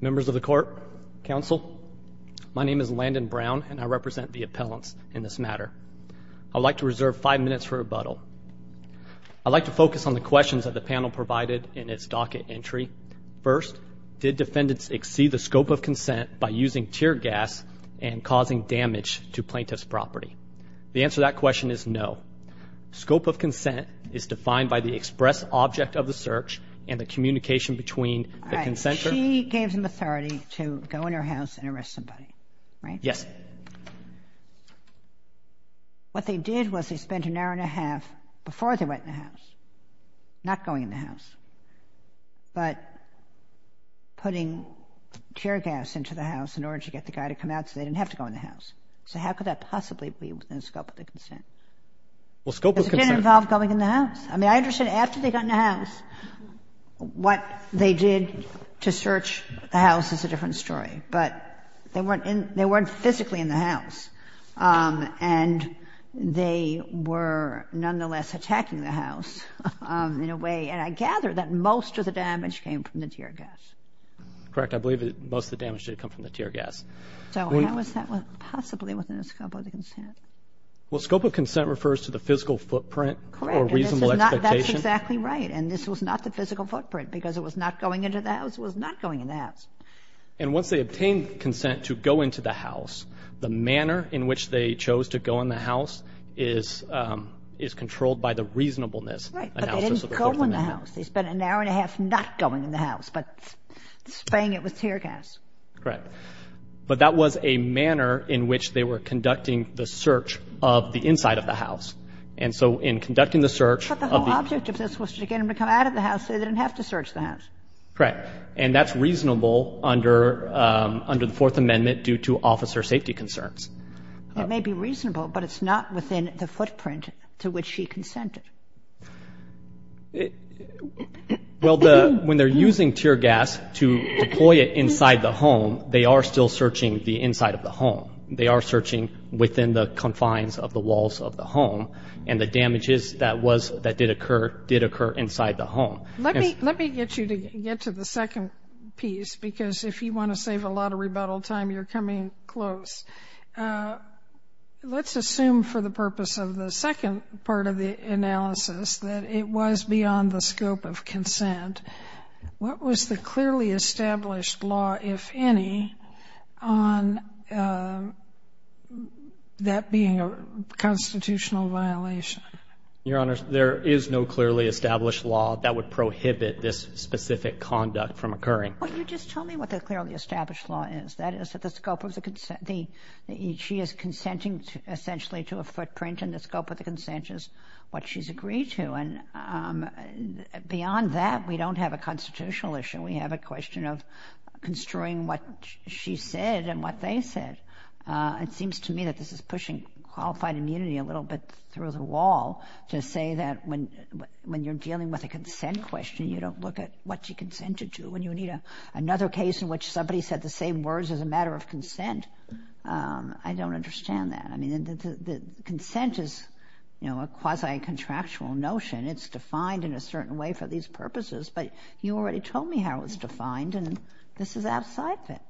Members of the court, counsel, my name is Landon Brown and I represent the appellants in this matter. I'd like to reserve five minutes for rebuttal. I'd like to focus on the questions that the panel provided in its docket entry. First, did defendants exceed the scope of consent by using tear gas and causing damage to plaintiff's property? The answer that question is no. Scope of communication between the consenter... She gave them authority to go in her house and arrest somebody, right? Yes. What they did was they spent an hour and a half before they went in the house, not going in the house, but putting tear gas into the house in order to get the guy to come out so they didn't have to go in the house. So how could that possibly be within the scope of the consent? Well, scope of consent... It didn't involve going in the house. I mean, I understand after they got in the what they did to search the house is a different story, but they weren't in, they weren't physically in the house, and they were nonetheless attacking the house in a way, and I gather that most of the damage came from the tear gas. Correct. I believe that most of the damage did come from the tear gas. So how is that possibly within the scope of the consent? Well, scope of consent refers to the physical footprint or reasonable expectation. That's exactly right, and this was not the because it was not going into the house, it was not going in the house. And once they obtained consent to go into the house, the manner in which they chose to go in the house is controlled by the reasonableness. Right, but they didn't go in the house. They spent an hour and a half not going in the house, but spaying it with tear gas. Correct, but that was a manner in which they were conducting the search of the inside of the house, and so in conducting the search... But the whole object of this was to get him to come out of the house so they didn't have to search the house. Correct, and that's reasonable under the Fourth Amendment due to officer safety concerns. It may be reasonable, but it's not within the footprint to which she consented. Well, when they're using tear gas to deploy it inside the home, they are still searching the inside of the home. They are searching within the confines of the walls of the home, and the damages that did occur did occur inside the home. Let me get you to get to the second piece, because if you want to save a lot of rebuttal time, you're coming close. Let's assume for the purpose of the second part of the analysis that it was beyond the scope of consent. What was the clearly established law, if any, on that being a constitutional violation? Your Honor, there is no clearly established law that would prohibit this specific conduct from occurring. Well, you just tell me what the clearly established law is. That is, that the scope of the consent... She is consenting essentially to a footprint, and the scope of the consent is what she's agreed to. And beyond that, we don't have a constitutional issue. We have a question of construing what she said and what they said. It seems to me that this is pushing qualified immunity a little bit through the wall to say that when you're dealing with a consent question, you don't look at what she consented to, and you need another case in which somebody said the same words as a matter of consent. I don't understand that. I mean, the consent is, you know, a quasi-contractual notion. It's defined in a certain way for these purposes, but you already told me how it was defined, and this is outside that.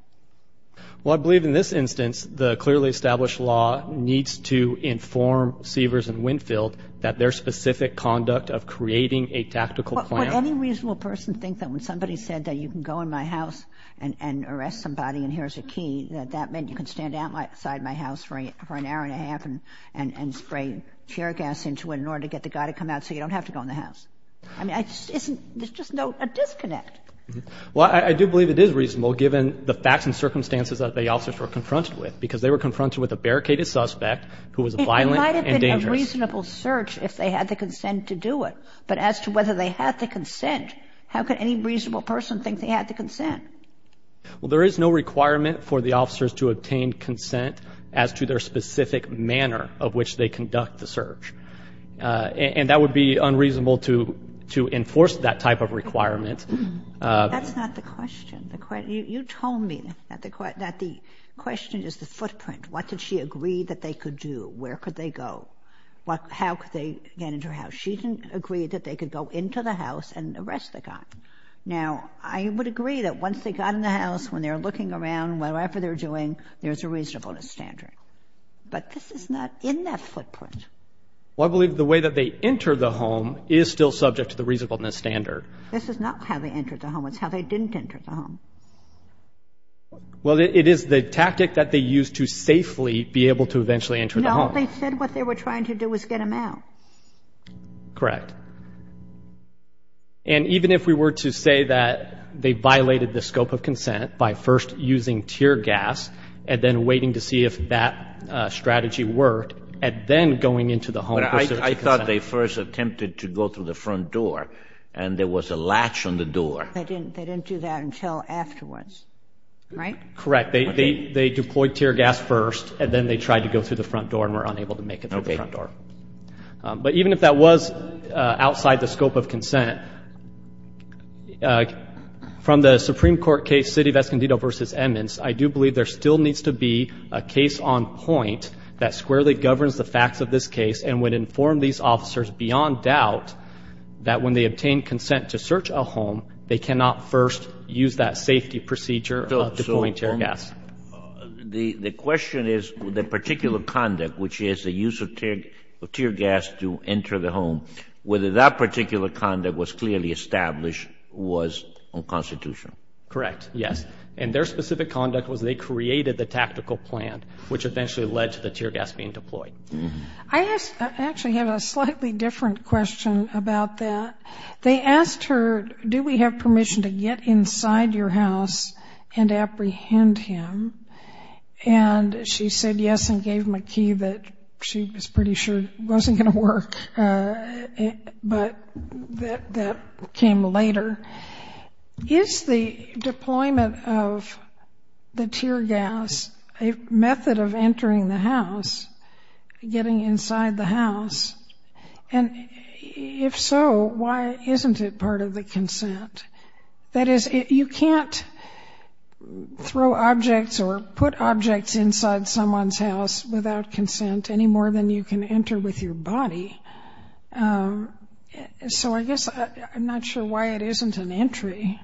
Well, I believe in this instance, the clearly established law needs to inform Sievers and Winfield that their specific conduct of creating a tactical plan... Would any reasonable person think that when somebody said that you can go in my house and arrest somebody and here's a key, that that meant you can stand outside my house for an hour and a half and spray tear gas into it in order to get the guy to come out so you don't have to go in the house? I mean, there's just no disconnect. Well, I do believe it is reasonable given the facts and circumstances that the officers were confronted with, because they were confronted with a barricaded suspect who was violent and dangerous. It might have been a reasonable search if they had the consent to do it, but as to whether they had the consent, how could any reasonable person think they had the consent? Well, there is no requirement for the officers to obtain consent as to their specific manner of which they conduct the search, and that would be unreasonable to enforce that type of requirement. That's not the question. You told me that the question is the footprint. What did she agree that they could do? Where could they go? How could they get into her house? She didn't agree that they could go into the house and arrest the guy. Now, I would agree that once they got in the house, when they're looking around, whatever they're doing, there's a reasonableness standard. But this is not in that footprint. Well, I believe the way that they entered the home is still subject to the reasonableness standard. This is not how they entered the home. It's how they didn't enter the home. Well, it is the tactic that they used to safely be able to eventually enter the home. No, they said what they were trying to do was get him out. Correct. And even if we were to say that they violated the scope of consent by first using tear gas and then waiting to see if that strategy worked and then going into the home in pursuit of consent. But I thought they first attempted to go through the front door and there was a latch on the door. They didn't do that until afterwards, right? Correct. They deployed tear gas first and then they tried to go through the front door and were unable to make it through the front door. Okay. But even if that was outside the scope of consent, from the Supreme Court case, the City of Escondido v. Emmons, I do believe there still needs to be a case on point that squarely governs the facts of this case and would inform these officers beyond doubt that when they obtain consent to search a home, they cannot first use that safety procedure of deploying tear gas. The question is the particular conduct, which is the use of tear gas to enter the home, whether that particular conduct was clearly established was unconstitutional. Correct, yes. And their specific conduct was they created the tactical plan, which eventually led to the tear gas being deployed. I actually have a slightly different question about that. They asked her, do we have permission to get inside your house and apprehend him? And she said yes and gave him a key that she was pretty sure wasn't going to work, but that came later. Is the deployment of the tear gas a method of entering the house, getting inside the house? And if so, why isn't it part of the consent? That is, you can't throw objects or put objects inside someone's house without consent any more than you can enter with your body. So I guess I'm not sure why it isn't an entry.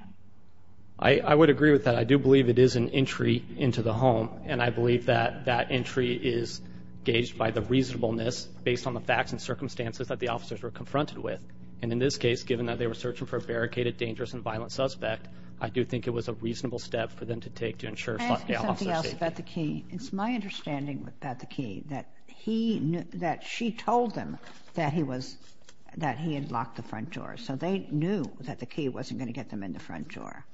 I would agree with that. I do believe it is an entry into the home, and I believe that that entry is gauged by the reasonableness based on the facts and circumstances that the officers were confronted with. And in this case, given that they were searching for a barricaded, dangerous and violent suspect, I do think it was a reasonable step for them to take to ensure the officer's safety. Can I ask you something else about the key? It's my understanding about the key that she told them that he had locked the front door, so they knew that the key wasn't going to get them in the front door,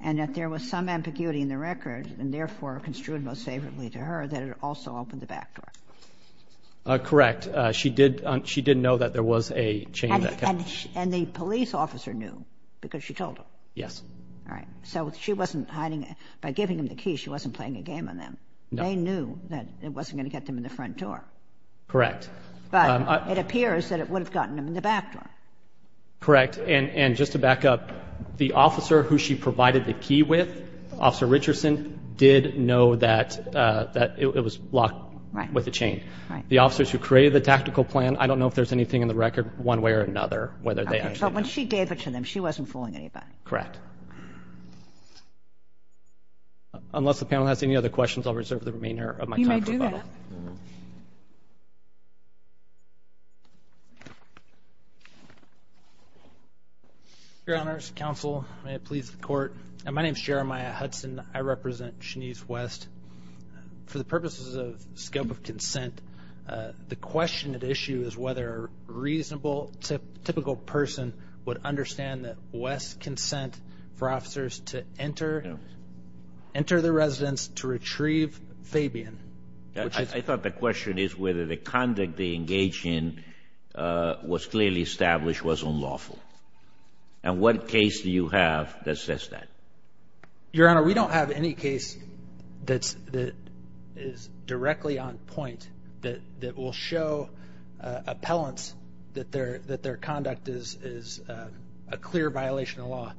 and that there was some ambiguity in the record, and therefore construed most favorably to her, that it also opened the back door. Correct. She did know that there was a chain. And the police officer knew because she told him? Yes. All right. So she wasn't hiding it. By giving him the key, she wasn't playing a game on them. No. They knew that it wasn't going to get them in the front door. Correct. But it appears that it would have gotten them in the back door. Correct. And just to back up, the officer who she provided the key with, Officer Richardson, did know that it was locked with a chain. Right. The officers who created the tactical plan, I don't know if there's anything in the record, one way or another, whether they actually know. But when she gave it to them, she wasn't fooling anybody. Correct. Unless the panel has any other questions, I'll reserve the remainder of my time. You may do that. Your Honors, Counsel, may it please the Court. My name is Jeremiah Hudson. I represent Shanese West. For the purposes of scope of consent, the question at issue is whether a reasonable, typical person would understand that West's consent for officers to enter the residence to retrieve Fabian. I thought the question is whether the conduct they engaged in was clearly established was unlawful. And what case do you have that says that? Your Honor, we don't have any case that is directly on point that will show appellants that their conduct is a clear violation of law.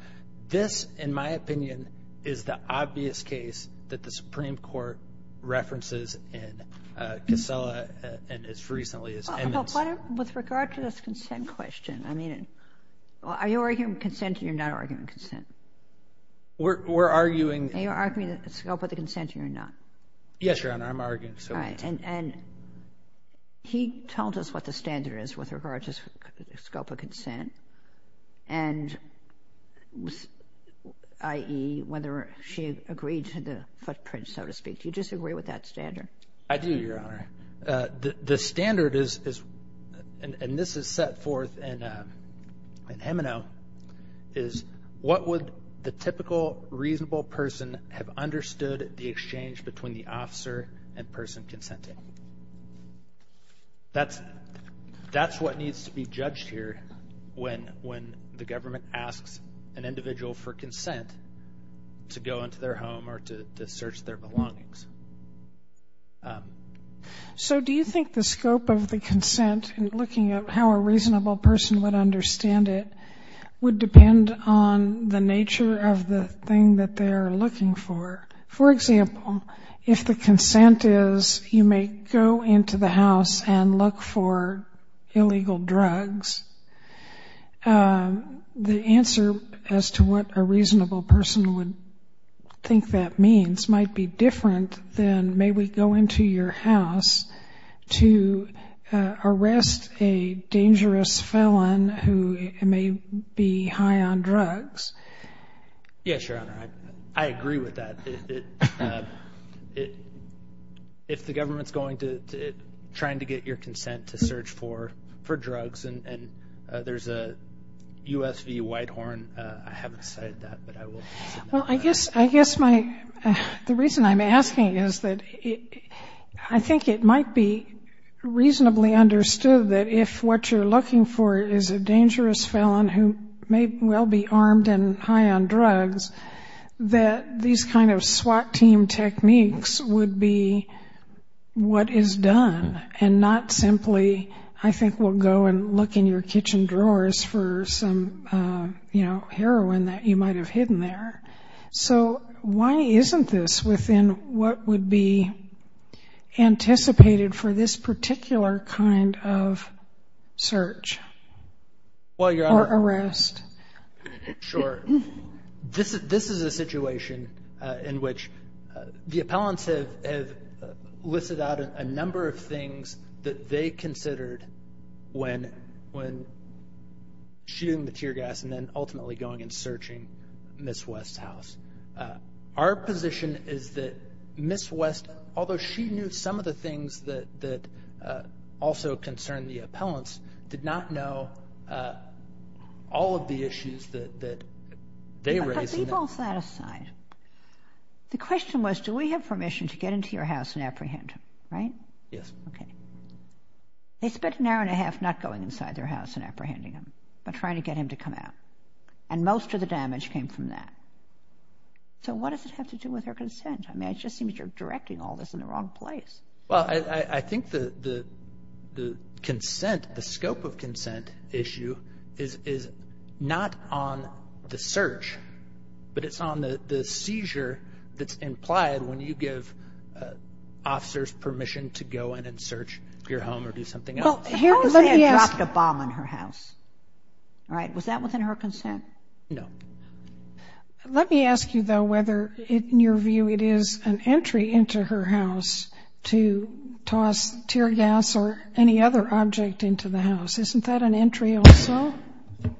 This, in my opinion, is the obvious case that the Supreme Court references in Casella and as recently as Emmons. With regard to this consent question, I mean, are you arguing consent or you're not arguing consent? We're arguing... Are you arguing the scope of the consent or you're not? Yes, Your Honor, I'm arguing. Right, and he tells us what the standard is with regard to the scope of consent and i.e. whether she agreed to the footprint, so to speak. Do you disagree with that standard? I do, Your Honor. The standard is, and this is set forth in Hemino, is what would the typical reasonable person have understood the exchange between the officer and person consenting? That's what needs to be judged here when the government asks an individual for consent to go into their home or to search their belongings. So do you think the scope of the consent, in looking at how a reasonable person would understand it, would depend on the nature of the thing that they are looking for? For example, if the consent is you may go into the house and look for illegal drugs, the answer as to what a reasonable person would think that means might be different than may we go into your house to arrest a dangerous felon who may be high on drugs. Yes, Your Honor, I agree with that. If the government's going to, trying to get your consent to search for drugs and there's a U.S. v. Whitehorn, I haven't cited that, but I will. Well, I guess my, the reason I'm asking is that I think it might be reasonably understood that if what you're looking for is a dangerous felon who may well be armed and high on drugs, that these kind of SWAT team techniques would be what is done and not simply I think we'll go and look in your kitchen drawers for some, you know, so why isn't this within what would be anticipated for this particular kind of search or arrest? Sure. This is a situation in which the appellants have listed out a number of things that they considered when shooting the tear gas and then ultimately going and searching Ms. West's house. Our position is that Ms. West, although she knew some of the things that also concerned the appellants, did not know all of the issues that they raised. But leave all that aside. The question was do we have permission to get into your house and apprehend him, right? Yes. Okay. They spent an hour and a half not going inside their house and apprehending him but trying to get him to come out. And most of the damage came from that. So what does it have to do with her consent? I mean, it just seems you're directing all this in the wrong place. Well, I think the consent, the scope of consent issue is not on the search but it's on the seizure that's implied when you give officers permission to go in and search your home or do something else. How is it they had dropped a bomb on her house? Was that within her consent? No. Let me ask you though whether in your view it is an entry into her house to toss tear gas or any other object into the house. Isn't that an entry also?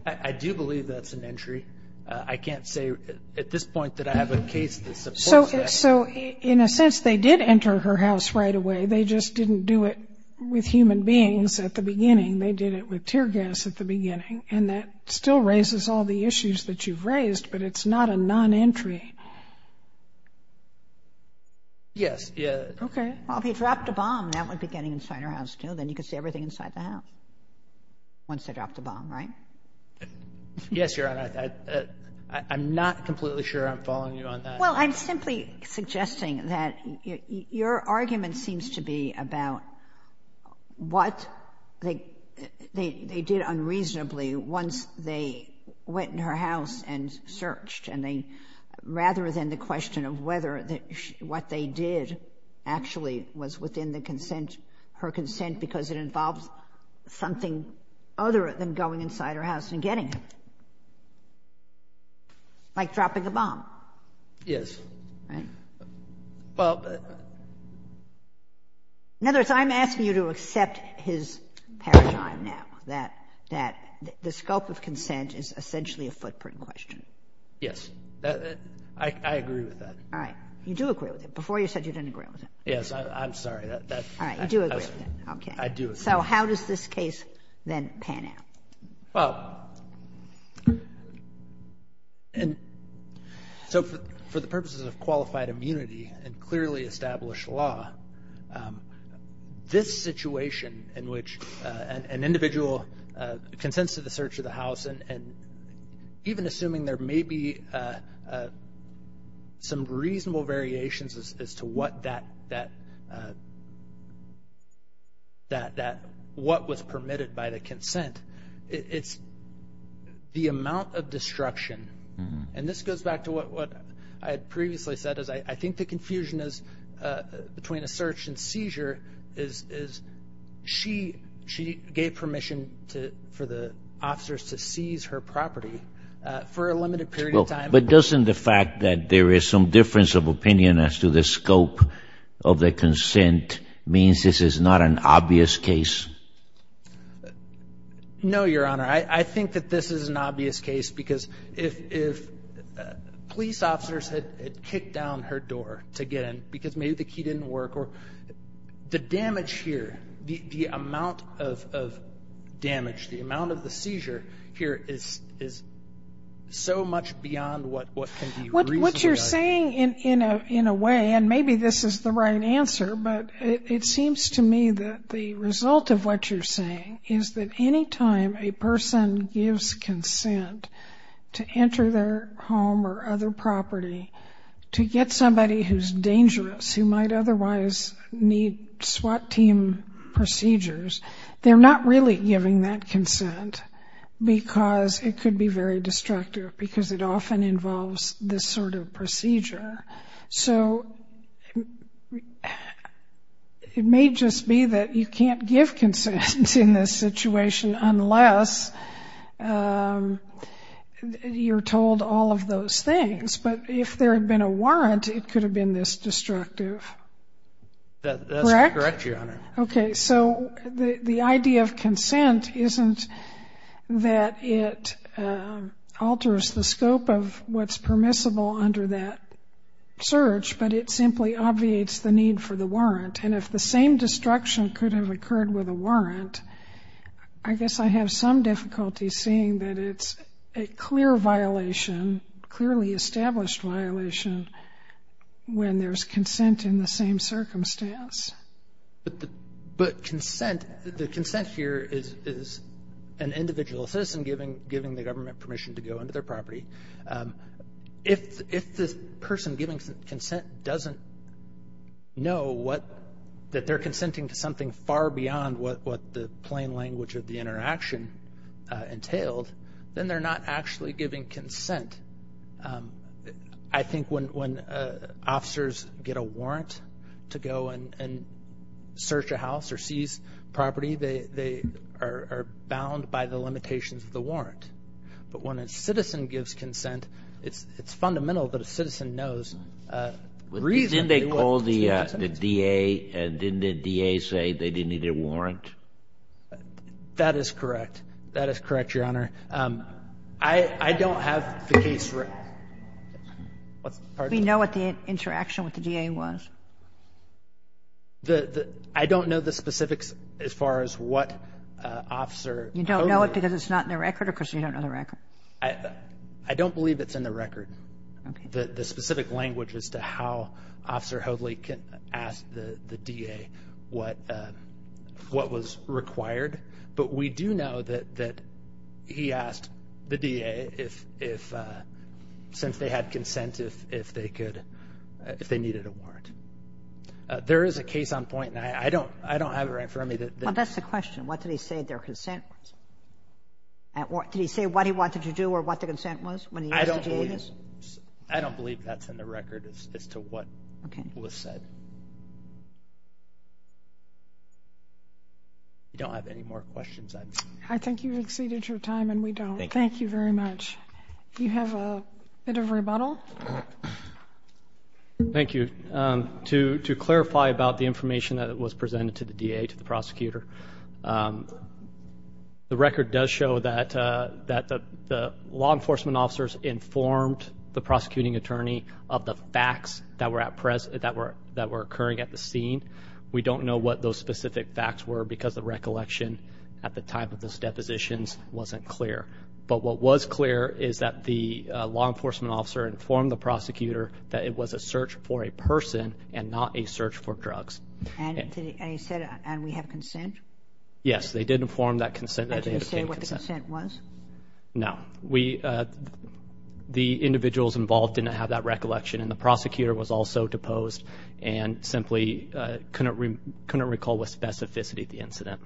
I do believe that's an entry. I can't say at this point that I have a case that supports that. So in a sense they did enter her house right away. They just didn't do it with human beings at the beginning. They did it with tear gas at the beginning. And that still raises all the issues that you've raised but it's not a non-entry. Yes. Okay. Well, if he dropped a bomb, that would be getting inside her house too. Then you could see everything inside the house once they dropped the bomb, right? Yes, Your Honor. I'm not completely sure I'm following you on that. Well, I'm simply suggesting that your argument seems to be about what they did unreasonably once they went in her house and searched. Rather than the question of whether what they did actually was within her consent because it involved something other than going inside her house and getting it. Like dropping a bomb. Yes. Right. Well. In other words, I'm asking you to accept his paradigm now. That the scope of consent is essentially a footprint question. Yes. I agree with that. All right. You do agree with it. Before you said you didn't agree with it. Yes. I'm sorry. All right. You do agree with it. Okay. I do agree. So how does this case then pan out? Well. So for the purposes of qualified immunity and clearly established law, this situation in which an individual consents to the search of the house and even assuming there may be some reasonable variations as to what that what was permitted by the consent. It's the amount of destruction. And this goes back to what I had previously said. I think the confusion is between a search and seizure is she gave permission for the officers to seize her property for a limited period of time. But doesn't the fact that there is some difference of opinion as to the scope of the consent means this is not an obvious case? No, Your Honor. I think that this is an obvious case because if police officers had kicked down her door to get in because maybe the key didn't work or the damage here, the amount of damage, the amount of the seizure here is so much beyond what can be reasonably identified. What you're saying in a way, and maybe this is the right answer, but it seems to me that the result of what you're saying is that any time a person gives consent to enter their home or other property to get somebody who's dangerous, who might otherwise need SWAT team procedures, they're not really giving that consent because it could be very destructive because it often involves this sort of procedure. So it may just be that you can't give consent in this situation unless you're told all of those things. But if there had been a warrant, it could have been this destructive. That's correct, Your Honor. Okay. So the idea of consent isn't that it alters the scope of what's permissible under that search, but it simply obviates the need for the warrant. I guess I have some difficulty seeing that it's a clear violation, clearly established violation, when there's consent in the same circumstance. But consent, the consent here is an individual citizen giving the government permission to go into their property. If the person giving consent doesn't know that they're consenting to something far beyond what the plain language of the interaction entailed, then they're not actually giving consent. I think when officers get a warrant to go and search a house or seize property, they are bound by the limitations of the warrant. But when a citizen gives consent, it's fundamental that a citizen knows the reason. Didn't they call the DA and didn't the DA say they needed a warrant? That is correct. That is correct, Your Honor. I don't have the case record. We know what the interaction with the DA was. I don't know the specifics as far as what officer told you. You don't know it because it's not in the record or because you don't know the record? I don't believe it's in the record. Okay. I don't know the specific language as to how Officer Hoadley asked the DA what was required, but we do know that he asked the DA, since they had consent, if they needed a warrant. There is a case on point, and I don't have it right in front of me. Well, that's the question. What did he say their consent was? Did he say what he wanted to do or what the consent was when he asked the DA this? I don't believe that's in the record as to what was said. Okay. I don't have any more questions. I think you've exceeded your time, and we don't. Thank you. Thank you very much. Do you have a bit of rebuttal? Thank you. To clarify about the information that was presented to the DA, to the prosecutor, the record does show that the law enforcement officers informed the prosecuting attorney of the facts that were occurring at the scene. We don't know what those specific facts were because the recollection at the time of those depositions wasn't clear. But what was clear is that the law enforcement officer informed the prosecutor that it was a search for a person and not a search for drugs. And he said, and we have consent? Yes, they did inform that consent that they obtained consent. And did he say what the consent was? No. The individuals involved didn't have that recollection, and the prosecutor was also deposed and simply couldn't recall the specificity of the incident.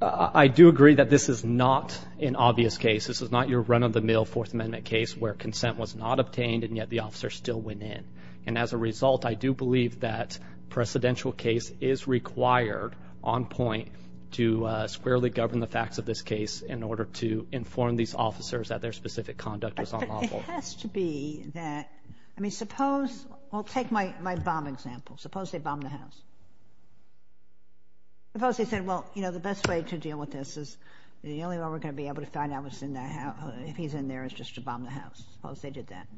I do agree that this is not an obvious case. This is not your run-of-the-mill Fourth Amendment case where consent was not obtained and yet the officer still went in. And as a result, I do believe that a precedential case is required on point to squarely govern the facts of this case in order to inform these officers that their specific conduct was unlawful. But it has to be that, I mean, suppose, well, take my bomb example. Suppose they bombed the house. Suppose they said, well, you know, the best way to deal with this is, the only way we're going to be able to find out if he's in there is just to bomb the house. Suppose they did that.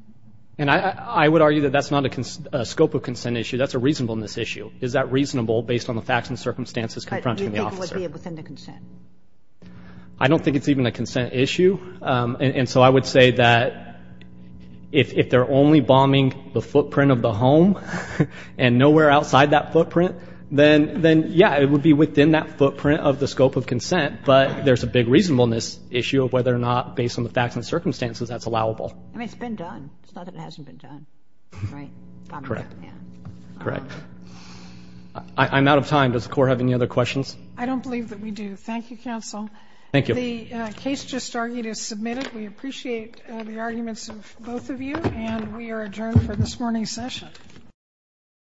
And I would argue that that's not a scope of consent issue. That's a reasonableness issue. Is that reasonable based on the facts and circumstances confronting the officer? Do you think it would be within the consent? I don't think it's even a consent issue. And so I would say that if they're only bombing the footprint of the home and nowhere outside that footprint, then, yeah, it would be within that footprint of the scope of consent. But there's a big reasonableness issue of whether or not, based on the facts and circumstances, that's allowable. I mean, it's been done. It's not that it hasn't been done. Right? Correct. Yeah. Correct. I'm out of time. Does the Court have any other questions? I don't believe that we do. Thank you, Counsel. Thank you. The case just argued is submitted. We appreciate the arguments of both of you. And we are adjourned for this morning's session.